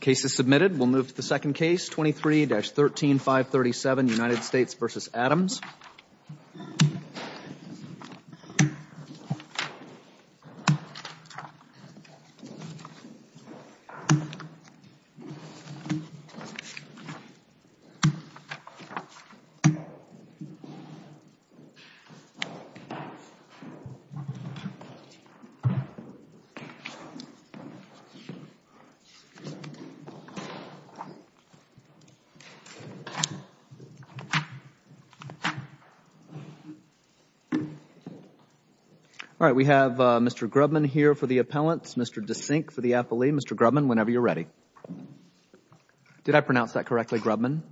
Case is submitted. We'll move to the second case, 23-13, 537, United States v. Adams. All right. We have Mr. Grubman here for the appellants, Mr. DeSink for the appellee. Mr. Grubman, whenever you're ready. Did I pronounce that correctly, Grubman?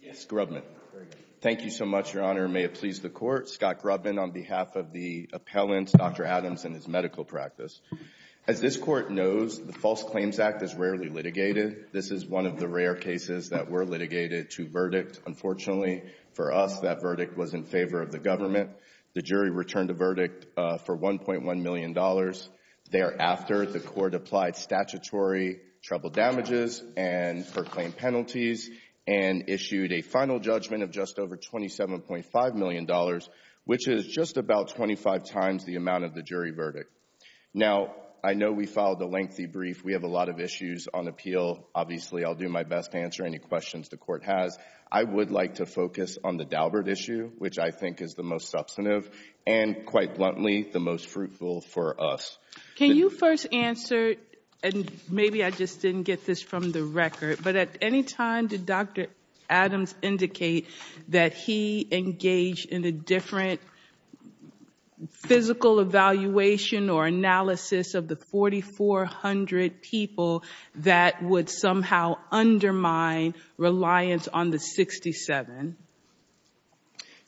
Yes, Grubman. Very good. Thank you so much, Your Honor. May it please the Court. Scott Grubman on behalf of the appellants, Dr. Adams and his medical practice. As this Court knows, the False Claims Act is rarely litigated. This is one of the rare cases that were litigated to verdict. Unfortunately, for us, that verdict was in favor of the government. The jury returned the verdict for $1.1 million. Thereafter, the Court applied statutory trouble damages and proclaimed penalties and issued a final judgment of just over $27.5 million, which is just about 25 times the amount of the jury verdict. Now, I know we filed a lengthy brief. We have a lot of issues on appeal. Obviously, I'll do my best to answer any questions the Court has. I would like to focus on the Daubert issue, which I think is the most substantive and, quite bluntly, the most fruitful for us. Can you first answer, and maybe I just didn't get this from the record, but at any time did Dr. Adams indicate that he engaged in a different physical evaluation or analysis of the 4,400 people that would somehow undermine reliance on the 67?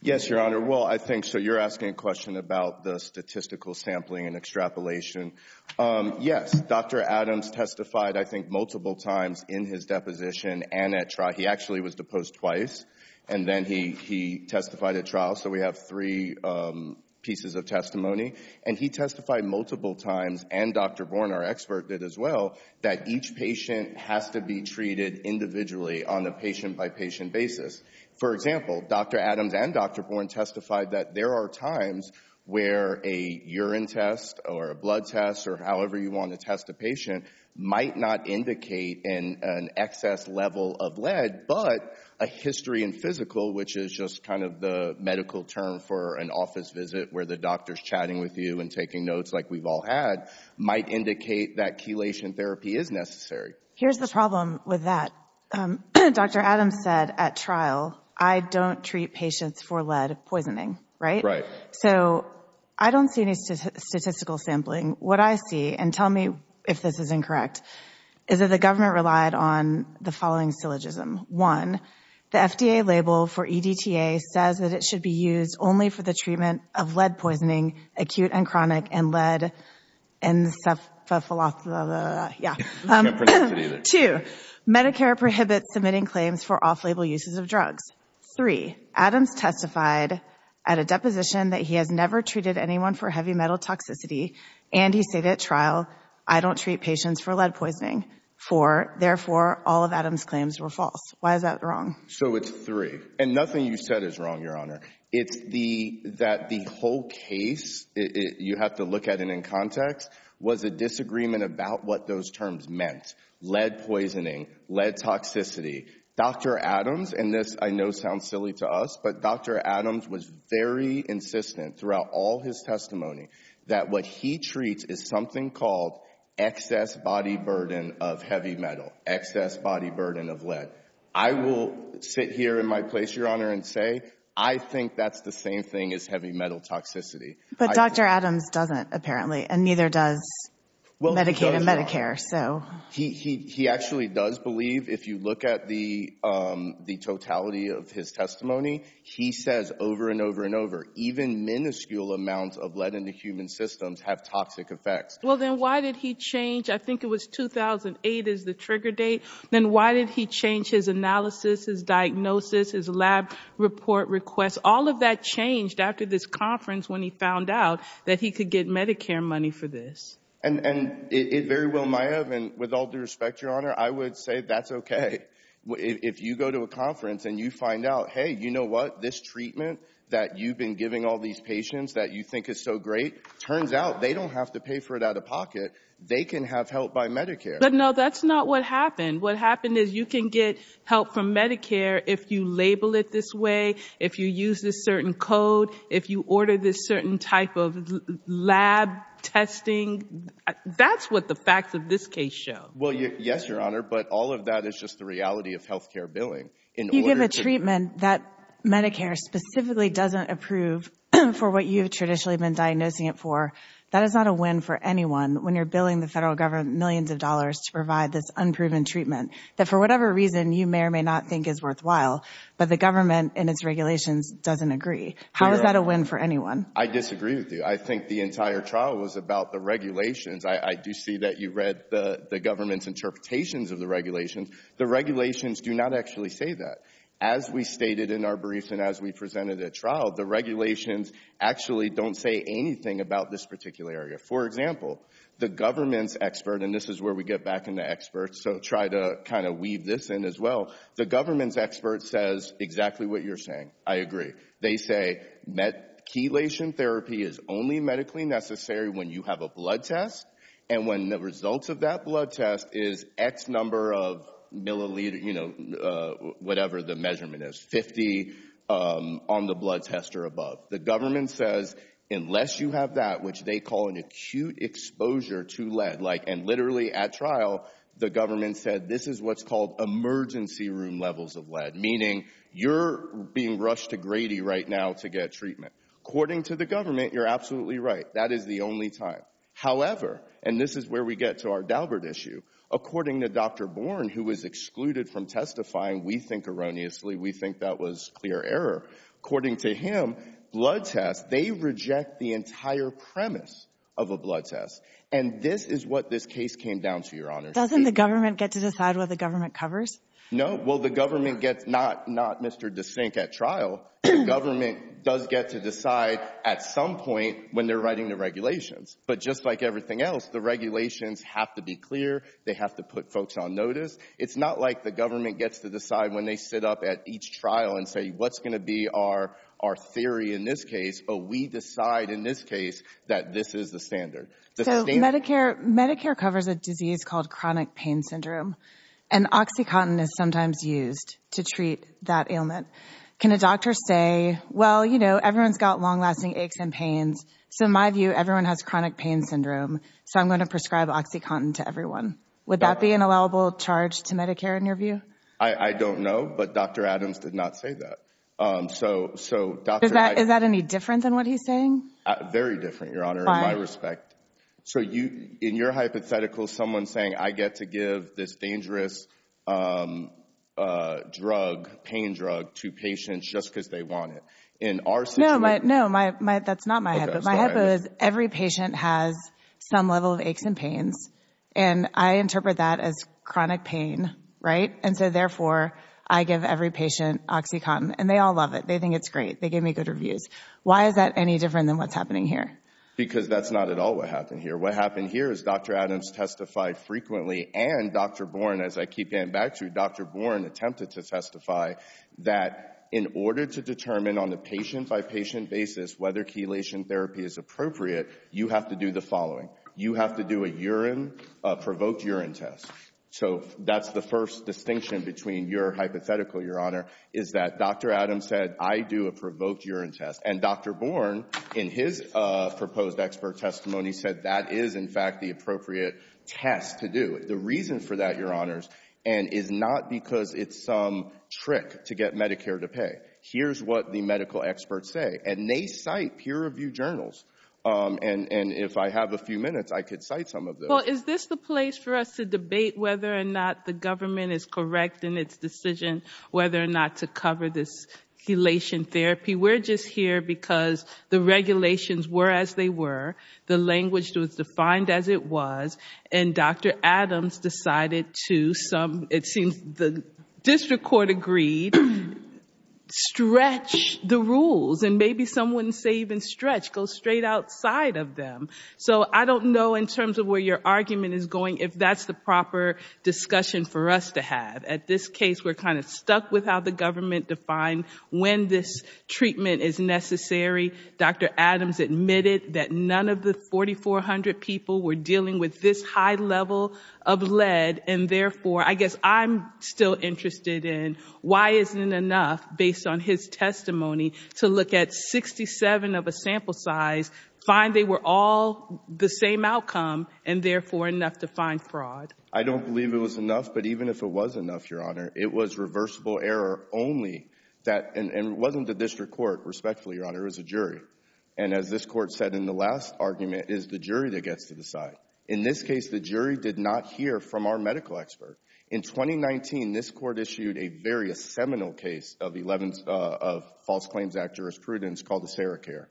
Yes, Your Honor. Well, I think, so you're asking a question about the statistical sampling and extrapolation. Yes, Dr. Adams testified, I think, multiple times in his deposition and at trial. He actually was deposed twice, and then he testified at trial, so we have three pieces of testimony. And he testified multiple times, and Dr. Bourne, our expert, did as well, that each patient has to be treated individually on a patient-by-patient basis. For example, Dr. Adams and Dr. Bourne testified that there are times where a urine test or a blood test or however you want to test a patient might not indicate an excess level of lead, but a history and physical, which is just kind of the medical term for an office visit where the doctor's chatting with you and taking notes like we've all had, might indicate that chelation therapy is necessary. Here's the problem with that. Dr. Adams said at trial, I don't treat patients for lead poisoning, right? So I don't see any statistical sampling. What I see, and tell me if this is incorrect, is that the government relied on the following syllogism. One, the FDA label for EDTA says that it should be used only for the treatment of lead poisoning, acute and chronic, and lead encephalophthalo... I can't pronounce it either. Two, Medicare prohibits submitting claims for off-label uses of drugs. Three, Adams testified at a deposition that he has never treated anyone for heavy metal toxicity, and he said at trial, I don't treat patients for lead poisoning. Four, therefore, all of Adams' claims were false. Why is that wrong? So it's three. And nothing you said is wrong, Your Honor. It's the, that the whole case, you have to look at it in context, was a disagreement about what those terms meant. Lead poisoning, lead toxicity. Dr. Adams, and this I know sounds silly to us, but Dr. Adams was very insistent throughout all his testimony that what he treats is something called excess body burden of heavy metal, excess body burden of lead. I will sit here in my place, Your Honor, and say, I think that's the same thing as heavy metal toxicity. But Dr. Adams doesn't, apparently, and neither does Medicaid and Medicare, so... He, he, he actually does believe, if you look at the, um, the totality of his testimony, he says over and over and over, even minuscule amounts of lead in the human systems have toxic effects. Well, then why did he change, I think it was 2008 is the trigger date, then why did he change his analysis, his diagnosis, his lab report requests? All of that changed after this conference when he found out that he could get Medicare money for this. And, and it very well might have, and with all due respect, Your Honor, I would say that's okay. If you go to a conference and you find out, hey, you know what, this treatment that you've been giving all these patients that you think is so great, turns out they don't have to pay for it out of pocket, they can have help by Medicare. But no, that's not what happened. What happened is you can get help from Medicare if you label it this way, if you use this certain code, if you order this certain type of lab testing and that's what the facts of this case show. Well, yes, Your Honor, but all of that is just the reality of health care billing. You give a treatment that Medicare specifically doesn't approve for what you've traditionally been diagnosing it for, that is not a win for anyone when you're billing the federal government millions of dollars to provide this unproven treatment that for whatever reason you may or may not think is worthwhile, but the government and its regulations doesn't agree. How is that a win for anyone? I disagree with you. I think the entire trial was about the regulations. I do see that you read the government's interpretations of the regulations. The regulations do not actually say that. As we stated in our brief and as we presented at trial, the regulations actually don't say anything about this particular area. For example, the government's expert, and this is where we get back into experts, so try to kind of weave this in as well, the government's expert says exactly what you're saying. I agree. They say chelation therapy is only medically necessary when you have a blood test and when the results of that blood test is X number of milliliter, you know, whatever the measurement is, 50 on the blood test or above. The government says unless you have that, which they call an acute exposure to lead, like and literally at trial, the government said this is what's called emergency room levels of lead, meaning you're being rushed to Grady right now to get treatment. According to the government, you're absolutely right. That is the only time. However, and this is where we get to our Daubert issue. According to Dr. Bourne, who was excluded from testifying, we think erroneously, we think that was clear error. According to him, blood tests, they reject the entire premise of a blood test. And this is what this case came down to, Your Honor. Doesn't the government get to decide what the government covers? No. Well, the government gets not, not Mr. DeSink at trial. Government does get to decide at some point when they're writing the regulations. But just like everything else, the regulations have to be clear. They have to put folks on notice. It's not like the government gets to decide when they sit up at each trial and say, what's going to be our our theory in this case? But we decide in this case that this is the standard. So Medicare, Medicare covers a disease called chronic pain syndrome. And Oxycontin is sometimes used to treat that ailment. Can a doctor say, well, you know, everyone's got long lasting aches and pains. So in my view, everyone has chronic pain syndrome. So I'm going to prescribe Oxycontin to everyone. Would that be an allowable charge to Medicare in your view? I don't know. But Dr. Adams did not say that. So, so is that is that any different than what he's saying? Very different, Your Honor, in my respect. So you, in your hypothetical, someone saying I get to give this dangerous drug, pain drug to patients just because they want it. In our situation. No, my, no, my, my, that's not my hypo. My hypo is every patient has some level of aches and pains. And I interpret that as chronic pain. Right. And so therefore, I give every patient Oxycontin. And they all love it. They think it's great. They give me good reviews. Why is that any different than what's happening here? Because that's not at all what happened here. What happened here is Dr. Adams testified frequently and Dr. Bourne, as I keep getting back to Dr. Bourne, attempted to testify that in order to determine on the patient by patient basis whether chelation therapy is appropriate, you have to do the following. You have to do a urine, a provoked urine test. So that's the first distinction between your hypothetical, Your Honor, is that Dr. Adams said, I do a provoked urine test. And Dr. Bourne, in his proposed expert testimony, said that is, in fact, the appropriate test to do. The reason for that, Your Honors, and is not because it's some trick to get Medicare to pay. Here's what the medical experts say. And they cite peer review journals. And if I have a few minutes, I could cite some of them. Well, is this the place for us to debate whether or not the government is correct in its decision whether or not to cover this chelation therapy? We're just here because the regulations were as they were. The language was defined as it was. And Dr. Adams decided to, it seems, the district court agreed, stretch the rules. And maybe some wouldn't say even stretch, go straight outside of them. So I don't know, in terms of where your argument is going, if that's the proper discussion for us to have. At this case, we're kind of stuck with how the government defined when this treatment is necessary. Dr. Adams admitted that none of the 4,400 people were dealing with this high level of lead. And therefore, I guess I'm still interested in why isn't it enough, based on his testimony, to look at 67 of a line fraud? I don't believe it was enough. But even if it was enough, Your Honor, it was reversible error only. And it wasn't the district court, respectfully, Your Honor. It was a jury. And as this court said in the last argument, it is the jury that gets to decide. In this case, the jury did not hear from our medical expert. In 2019, this court issued a very seminal case of false claims act jurisprudence called the SARA CARE.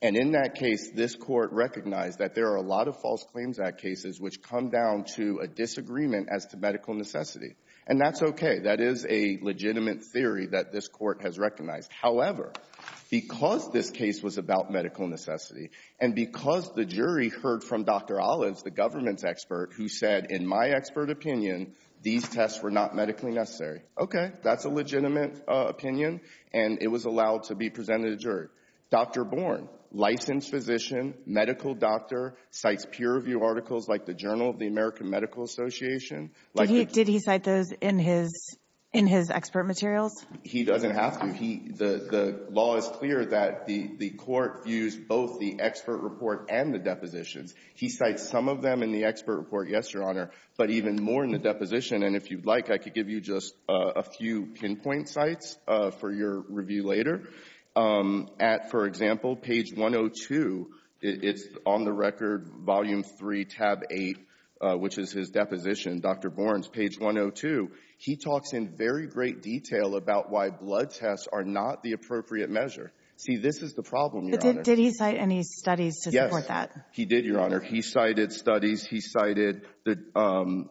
And in that case, this court recognized that there are a lot of false claims act cases which come down to a disagreement as to medical necessity. And that's okay. That is a legitimate theory that this court has recognized. However, because this case was about medical necessity, and because the jury heard from Dr. Ollins, the government's expert, who said, in my expert opinion, these tests were not medically necessary. Okay. That's a legitimate opinion. And it was allowed to be presented to the jury. Dr. Born, licensed physician, medical doctor, cites peer-reviewed articles like the Journal of the American Medical Association. Like the — Did he cite those in his — in his expert materials? He doesn't have to. He — the law is clear that the court views both the expert report and the depositions. He cites some of them in the expert report, yes, Your Honor, but even more in the deposition. And if you'd like, I could give you just a few pinpoint sites for your review later. At, for example, page 102, it's on the record, volume three, tab eight, which is his deposition, Dr. Born's page 102. He talks in very great detail about why blood tests are not the appropriate measure. See, this is the problem, Your Honor. Did he cite any studies to support that? Yes, he did, Your Honor. He cited studies. He cited the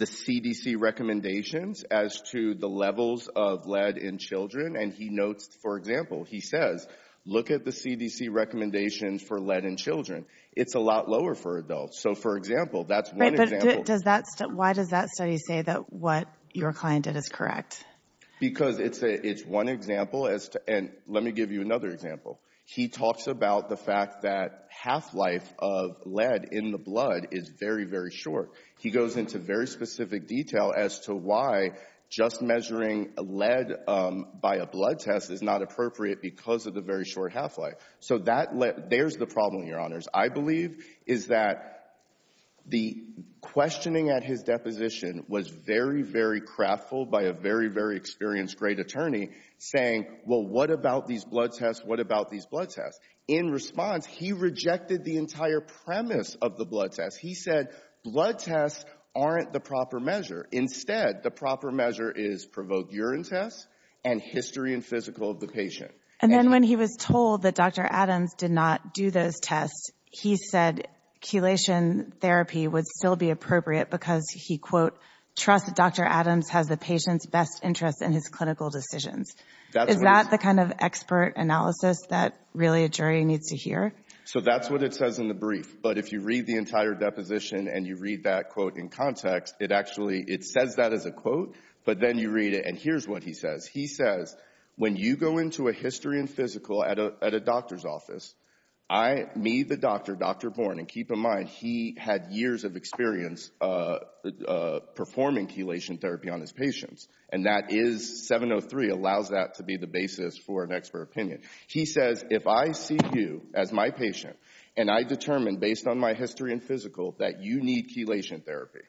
CDC recommendations as to the levels of lead in children, and he notes, for example, he says, look at the CDC recommendations for lead in children. It's a lot lower for adults. So, for example, that's one example — Right, but does that — why does that study say that what your client did is correct? Because it's a — it's one example as to — and let me give you another example. He talks about the fact that half-life of lead in the blood is very, very short. He goes into very specific detail as to why just measuring lead by a blood test is not appropriate because of the very short half-life. So that — there's the problem, Your Honors. I believe is that the questioning at his deposition was very, very craftful by a very, very experienced, great attorney saying, well, what about these blood tests? What about these blood tests? In response, he rejected the entire premise of the blood test. He said, blood tests aren't the proper measure. Instead, the proper measure is provoke urine tests and history and physical of the patient. And then when he was told that Dr. Adams did not do those tests, he said chelation therapy would still be appropriate because he, quote, trusts that Dr. Adams has the patient's best interest in his clinical decisions. Is that the kind of expert analysis that really a jury needs to hear? So that's what it says in the brief. But if you read the entire deposition and you read that quote in context, it actually — it says that as a quote, but then you read it. And here's what he says. He says, when you go into a history and physical at a doctor's office, I — me, the doctor, Dr. Bourne — and keep in mind, he had years of experience performing chelation therapy on his patients. And that is — 703 allows that to be the basis for an expert opinion. He says, if I see you as my patient and I determine based on my history and physical that you need chelation therapy,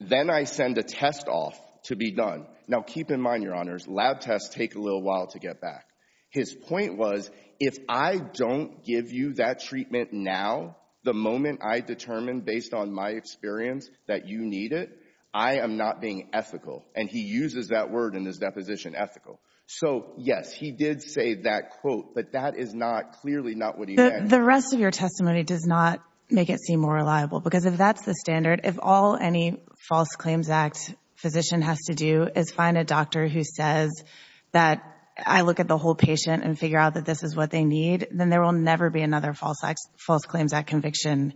then I send a test off to be done. Now, keep in mind, Your Honors, lab tests take a little while to get back. His point was, if I don't give you that treatment now, the moment I determine based on my experience that you need it, I am not being ethical. And he uses that word in his deposition, ethical. So, yes, he did say that quote, but that is not — clearly not what he meant. The rest of your testimony does not make it seem more reliable, because if that's the standard, if all any False Claims Act physician has to do is find a doctor who says that I look at the whole patient and figure out that this is what they need, then there will never be another False Claims Act conviction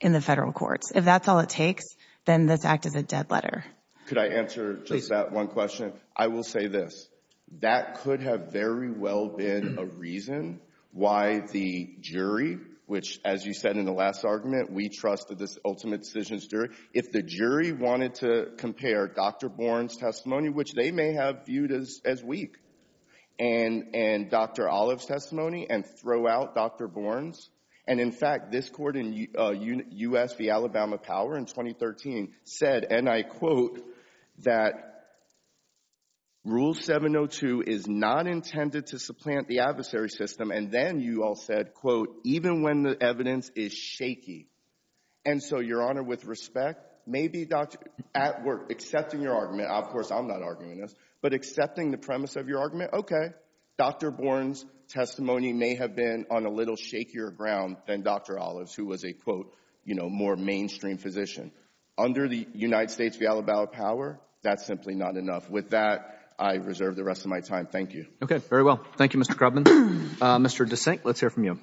in the federal courts. If that's all it takes, then this act is a dead letter. Could I answer just that one question? I will say this. That could have very well been a reason why the jury, which, as you said in the last argument, we trust that this ultimate decision is jury, if the jury wanted to compare Dr. Bourne's testimony, which they may have viewed as weak, and Dr. Olive's testimony, and throw out Dr. Bourne's — and, in fact, this court in U.S. v. Alabama Power in 2013 said, and I quote, that Rule 702 is not intended to supplant the adversary system. And then you all said, quote, even when the evidence is shaky. And so, Your Honor, with respect, maybe at work, accepting your argument — of course, I'm not arguing this — but accepting the premise of your argument, okay, Dr. Bourne's testimony may have been on a little shakier ground than Dr. Olive's, who was a, quote, you know, more mainstream physician. Under the United States v. Alabama Power, that's simply not enough. With that, I reserve the rest of my time. Thank you. Okay. Very well. Thank you, Mr. Crubman. Mr. DeSink, let's hear from you.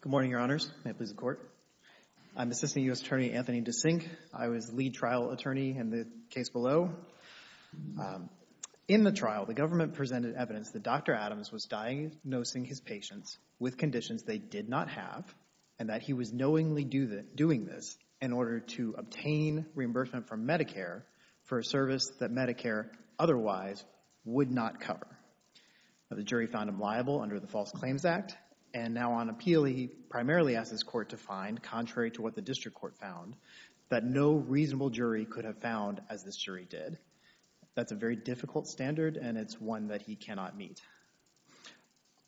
Good morning, Your Honors. May it please the Court. I'm Assistant U.S. Attorney Anthony DeSink. I was lead trial attorney in the case below. In the trial, the government presented evidence that Dr. Adams was diagnosing his patients with conditions they did not have and that he was knowingly doing this in order to obtain reimbursement from Medicare for a service that Medicare otherwise would not cover. Now, the jury found him liable under the False Claims Act, and now on appeal, he primarily asked his court to find, contrary to what the district court found, that no reasonable jury could have found as this jury did. That's a very difficult standard, and it's one that he cannot meet.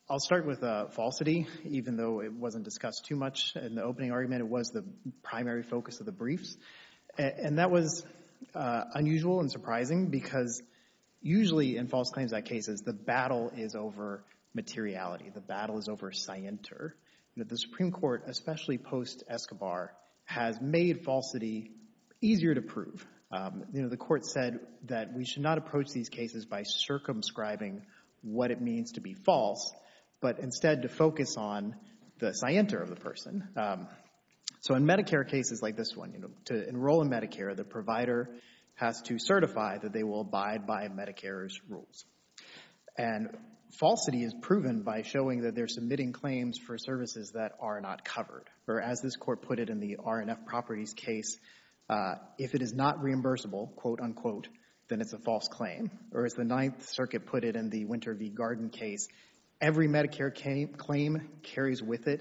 I'll start with falsity, even though it wasn't discussed too much in the opening argument. It was the primary focus of the briefs, and that was unusual and surprising because usually in False Claims Act cases, the battle is over materiality. The battle is over scienter. The Supreme Court, especially post-Escobar, has made falsity easier to prove. The court said that we should not approach these cases by circumscribing what it means to be false, but instead to focus on the scienter of the person. So in Medicare cases like this one, to enroll in Medicare, the provider has to certify that they will abide by Medicare's rules, and falsity is proven by showing that they're submitting claims for services that are not covered, or as this court put it in the R&F Properties case, if it is not reimbursable, quote unquote, then it's a false claim, or as the Ninth Circuit put it in the Winter v. Garden case, every Medicare claim carries with it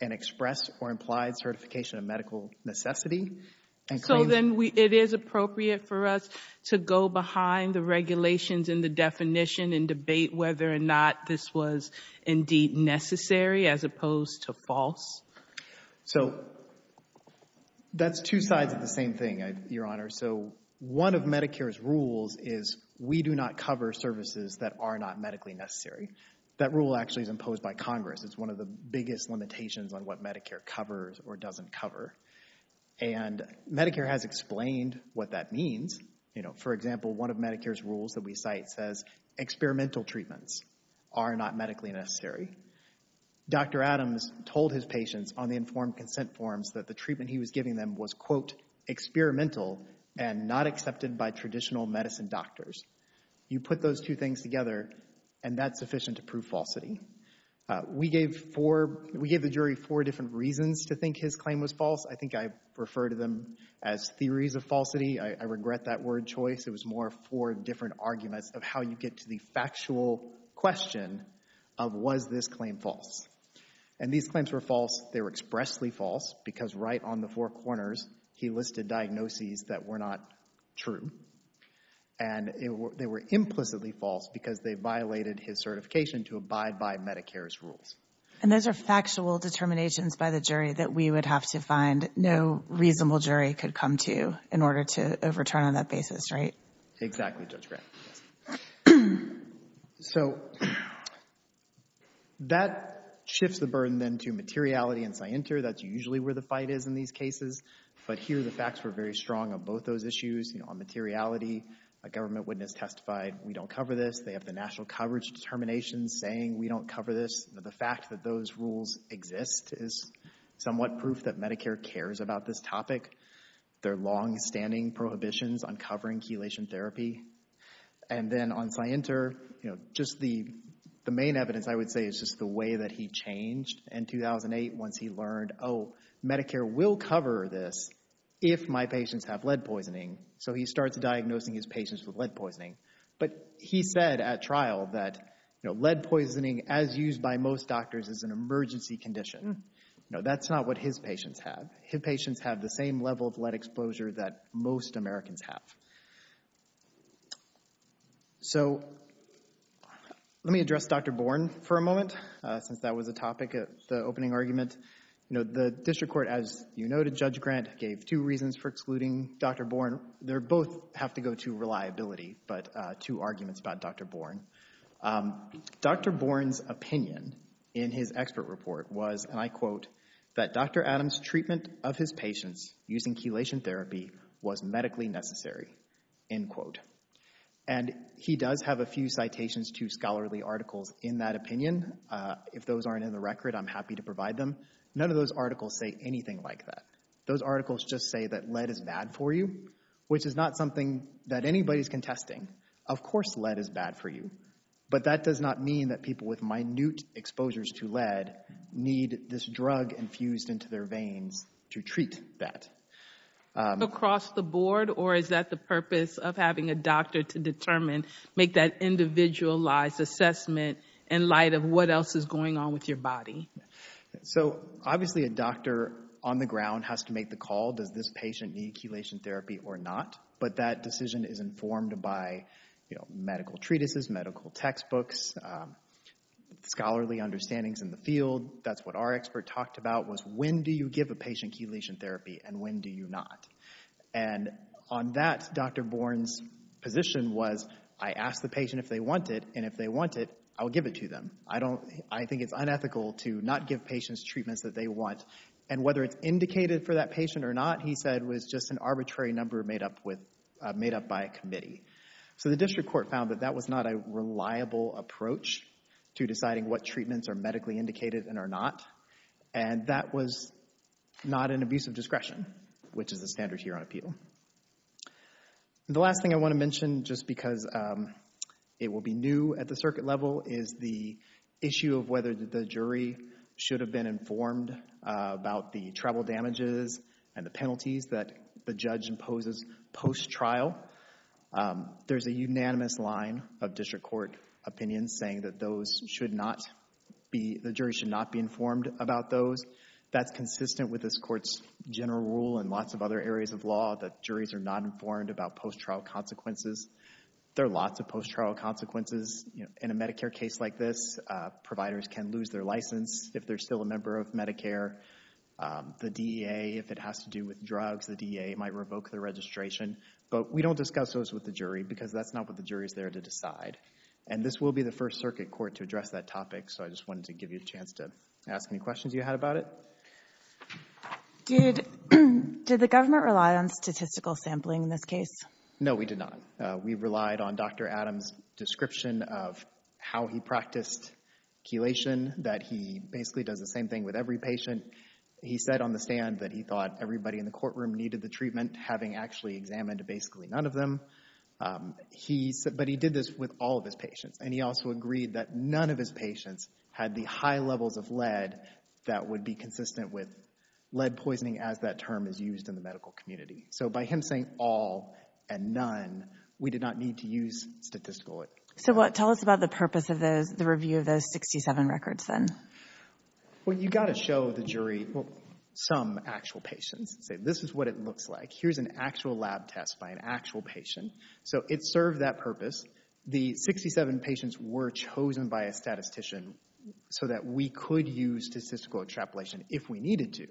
an express or implied certification of medical necessity. So then it is appropriate for us to go behind the regulations and the definition and debate whether or not this was indeed necessary as opposed to false? So that's two sides of the same thing, Your Honor. So one of Medicare's rules is we do not cover services that are not medically necessary. That rule actually is imposed by Congress. It's one of the biggest limitations on what Medicare covers or doesn't cover, and Medicare has explained what that means. You know, for example, one of Medicare's rules that we cite says experimental treatments are not medically necessary. Dr. Adams told his patients on the informed consent forms that the treatment he was giving them was, quote, experimental and not accepted by traditional medicine doctors. You put those two things together, and that's sufficient to prove falsity. We gave four—we gave the jury four different reasons to think his claim was false. I think I refer to them as theories of falsity. I regret that word choice. It was more four different arguments of how you get to the factual question of was this claim false? And these claims were false. They were expressly false because right on the four corners, he listed diagnoses that were not true, and they were implicitly false because they violated his certification to abide by Medicare's rules. And those are factual determinations by the jury that we would have to find no reasonable jury could come to in order to overturn on that basis, right? Exactly, Judge Grant. So that shifts the burden then to materiality and scienter. That's usually where the fight is in these cases, but here the facts were very strong on both those issues. You know, on materiality, a government witness testified, we don't cover this. They have the national coverage determinations saying we don't cover this. The fact that those rules exist is somewhat proof that Medicare cares about this topic. There are longstanding prohibitions on covering chelation therapy. And then on scienter, you know, just the main evidence, I would say, is just the way that he changed in 2008 once he learned, oh, Medicare will cover this if my patients have lead poisoning. So he starts diagnosing his patients with lead poisoning, but he said at trial that, you know, lead poisoning, as used by most doctors, is an emergency condition. You know, that's not what his patients have. His patients have the same level of lead that he has. So, you know, I think that's a good point. Since that was a topic at the opening argument, you know, the district court, as you noted, Judge Grant gave two reasons for excluding Dr. Bourne. They both have to go to reliability, but two arguments about Dr. Bourne. Dr. Bourne's opinion in his expert report was, and I quote, that Dr. Adams' treatment of his patients using chelation therapy was medically necessary, end quote. And he does have a few citations to scholarly articles in that opinion. If those aren't in the record, I'm happy to provide them. None of those articles say anything like that. Those articles just say that lead is bad for you, which is not something that anybody's contesting. Of course lead is bad for you, but that does not mean that people with minute exposures to lead need this drug infused into their veins to treat that. Across the board, or is that the purpose of having a doctor to determine, make that individualized assessment in light of what else is going on with your body? So obviously a doctor on the ground has to make the call. Does this patient need chelation therapy or not? But that decision is informed by, you know, medical treatises, medical textbooks, scholarly understandings in the field. That's what our expert talked about was, when do you give a patient chelation therapy and when do you not? And on that Dr. Bourne's position was, I ask the patient if they want it and if they want it, I'll give it to them. I think it's unethical to not give patients treatments that they want. And whether it's indicated for that patient or not, he said, was just an arbitrary number made up by a committee. So the district court found that that was not a reliable approach to deciding what treatments are medically indicated and are not. And that was not an abuse of discretion, which is the standard here on appeal. And the last thing I want to mention, just because it will be new at the circuit level, is the issue of whether the jury should have been informed about the travel damages and the penalties that the judge imposes post-trial. There's a unanimous line of district court opinions saying that those should not be, the jury should not be informed about those. That's juries are not informed about post-trial consequences. There are lots of post-trial consequences in a Medicare case like this. Providers can lose their license if they're still a member of Medicare. The DEA, if it has to do with drugs, the DEA might revoke their registration. But we don't discuss those with the jury because that's not what the jury is there to decide. And this will be the first circuit court to address that topic. So I just wanted to give you a chance to ask any questions you had about it. Did the government rely on statistical sampling in this case? No, we did not. We relied on Dr. Adams' description of how he practiced chelation, that he basically does the same thing with every patient. He said on the stand that he thought everybody in the courtroom needed the treatment, having actually examined basically none of them. But he did this with all of his patients. And he also agreed that none of his patients had the high levels of lead that would be consistent with lead poisoning as that term is used in the medical community. So by him saying all and none, we did not need to use statistical. So what, tell us about the purpose of those, the review of those 67 records then. Well, you got to show the jury some actual patients. Say, this is what it looks like. Here's an actual lab test by an actual patient. So it served that purpose. The 67 patients were chosen by a statistician so that we could use statistical extrapolation if we needed to.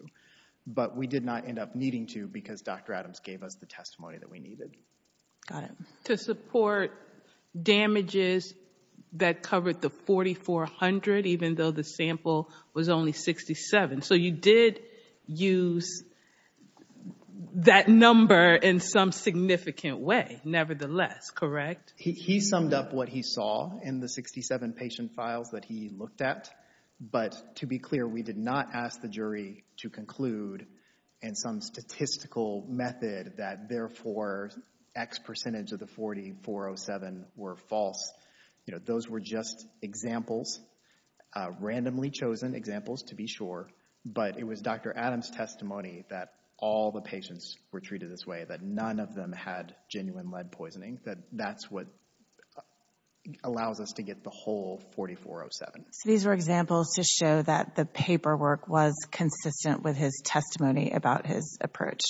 But we did not end up needing to because Dr. Adams gave us the testimony that we needed. Got it. To support damages that covered the 4,400, even though the sample was only 67. So you did use that number in some significant way, nevertheless, correct? He summed up what he saw in the 67 patient files that he looked at. But to be clear, we did not ask the jury to conclude in some statistical method that therefore X percentage of the 4,407 were false. You know, those were just examples, randomly chosen examples, to be sure. But it was Dr. Adams' testimony that all the patients were treated this way, that none of them had genuine lead poisoning, that that's what allows us to get the whole 4,407. So these were examples to show that the paperwork was consistent with his testimony about his approach,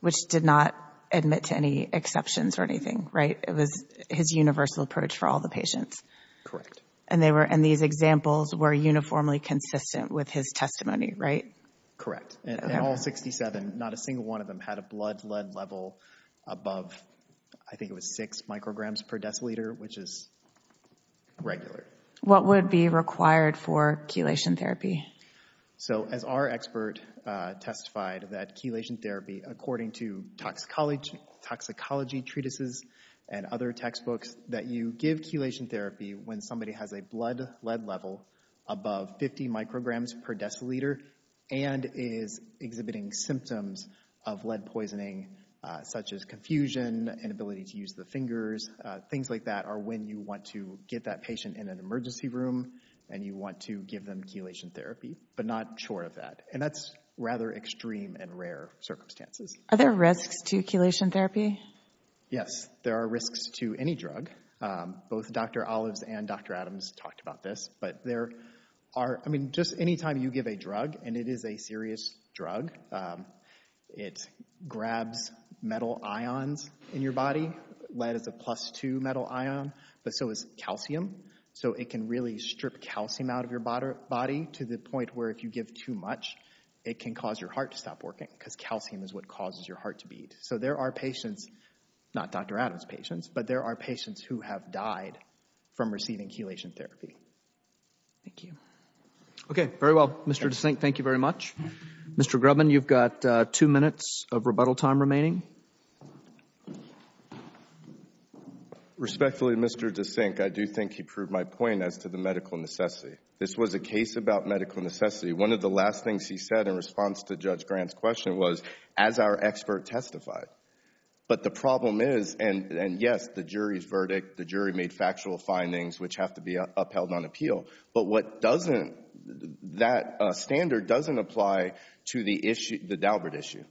which did not admit to any exceptions or anything, right? It was his universal approach for all the patients. Correct. And these examples were uniformly consistent with his testimony, right? Correct. And all 67, not a single one of them had a blood lead level above, I think it was six micrograms per deciliter, which is regular. What would be required for chelation therapy? So as our expert testified that chelation therapy, according to toxicology treatises and other textbooks, that you give chelation therapy when somebody has a blood lead level above 50 micrograms per deciliter and is exhibiting symptoms of lead poisoning, such as confusion, inability to use the fingers, things like that are when you want to get that patient in an emergency room and you want to give them chelation therapy, but not short of that. And that's rather extreme and rare circumstances. Are there risks to chelation therapy? Yes, there are risks to any drug. Both Dr. Olives and Dr. Adams talked about this, but there are, I mean, just any time you give a drug, and it is a serious drug, it grabs metal ions in your body, lead is a plus two metal ion, but so is calcium. So it can really strip calcium out of your body to the point where if you give too much, it can cause your heart to stop working, because calcium is what causes your heart to beat. So there are patients, not Dr. Adams' patients, but there are patients who have died from receiving chelation therapy. Thank you. Okay, very well, Mr. DeSink, thank you very much. Mr. Grubin, you've got two minutes of rebuttal time remaining. Respectfully, Mr. DeSink, I do think he proved my point as to the medical necessity. This was a case about medical necessity. One of the last things he said in response to Judge Grant's question was, as our expert testified. But the problem is, and yes, the jury's verdict, the jury made factual findings which have to be upheld on appeal, but what doesn't, that standard doesn't apply to the issue, the Daubert issue.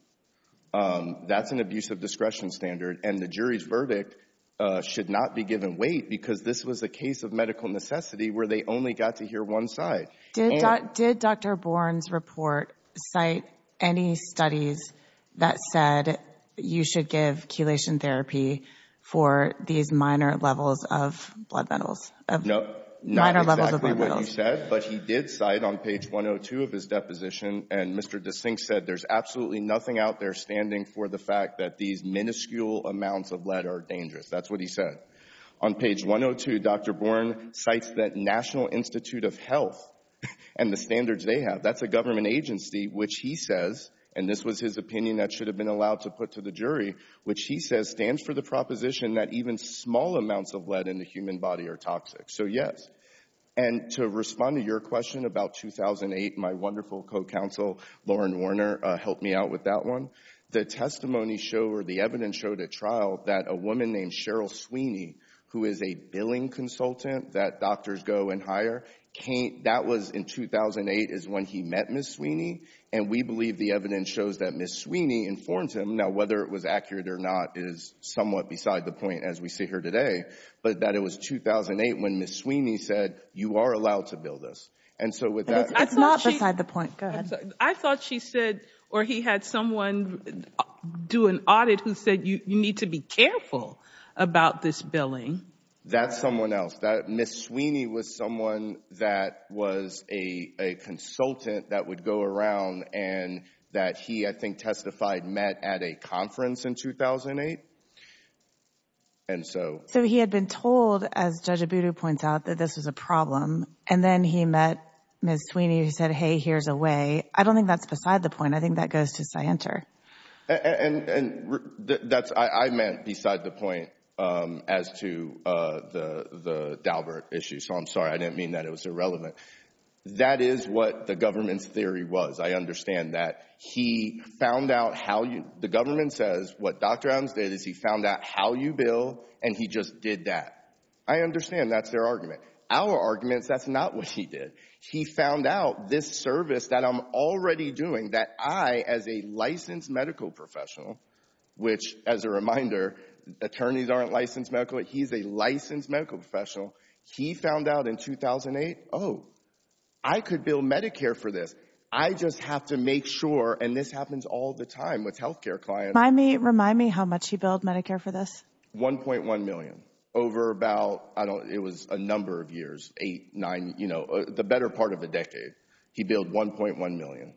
That's an abusive discretion standard, and the jury's verdict should not be given weight because this was a case of medical necessity where they only got to hear one side. Did Dr. Bourne's report cite any studies that said you should give chelation therapy for these minor levels of blood metals? No, not exactly what you said, but he did cite on page 102 of his deposition, and Mr. DeSink said there's absolutely nothing out there standing for the fact that these minuscule amounts of lead are dangerous. That's what he said. On page 102, Dr. Bourne cites the National Institute of Health and the standards they have. That's a government agency, which he says, and this was his opinion that should have been allowed to put to the jury, which he says stands for the proposition that even small amounts of lead in the human body are toxic. So, yes. And to respond to your question about 2008, my wonderful co-counsel, Lauren Warner, helped me out with that one. The testimony showed, or the evidence showed at trial, that a woman named Cheryl Sweeney, who is a billing consultant that doctors go and hire, that was in 2008 is when he met Ms. Sweeney, and we believe the evidence shows that Ms. Sweeney informs him. Now, whether it was accurate or not is somewhat beside the point as we see her today, but that it was 2008 when Ms. Sweeney said, you are allowed to bill this. And it's not beside the point. Go ahead. I thought she said, or he had someone do an audit who said, you need to be careful about this billing. That's someone else. Ms. Sweeney was someone that was a consultant that would go around and that he, I think, testified met at a conference in 2008. And so... So, he had been told, as Judge Abudu points out, that this was a problem, and then he met Ms. Sweeney who said, hey, here's a way. I don't think that's beside the point. I think that goes And that's, I meant beside the point as to the Daubert issue. So, I'm sorry. I didn't mean that it was irrelevant. That is what the government's theory was. I understand that he found out how you, the government says what Dr. Adams did is he found out how you bill, and he just did that. I understand that's their argument. Our arguments, that's not what he did. He found out this service that I'm already doing that I, as a licensed medical professional, which as a reminder, attorneys aren't licensed medical. He's a licensed medical professional. He found out in 2008, oh, I could bill Medicare for this. I just have to make sure, and this happens all the time with healthcare clients. Remind me how much you billed Medicare for this. $1.1 million over about, I don't, it was a number of years, eight, nine, you know, the better part of a decade. He billed $1.1 million.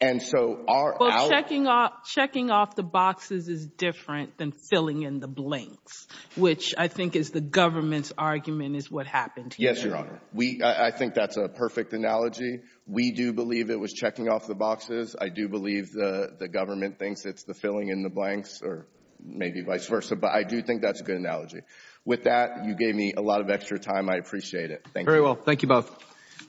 And so, our- Well, checking off the boxes is different than filling in the blanks, which I think is the government's argument is what happened here. Yes, Your Honor. We, I think that's a perfect analogy. We do believe it was checking off the boxes. I do believe the government thinks it's filling in the blanks or maybe vice versa, but I do think that's a good analogy. With that, you gave me a lot of extra time. I appreciate it. Thank you. Very well. Thank you both.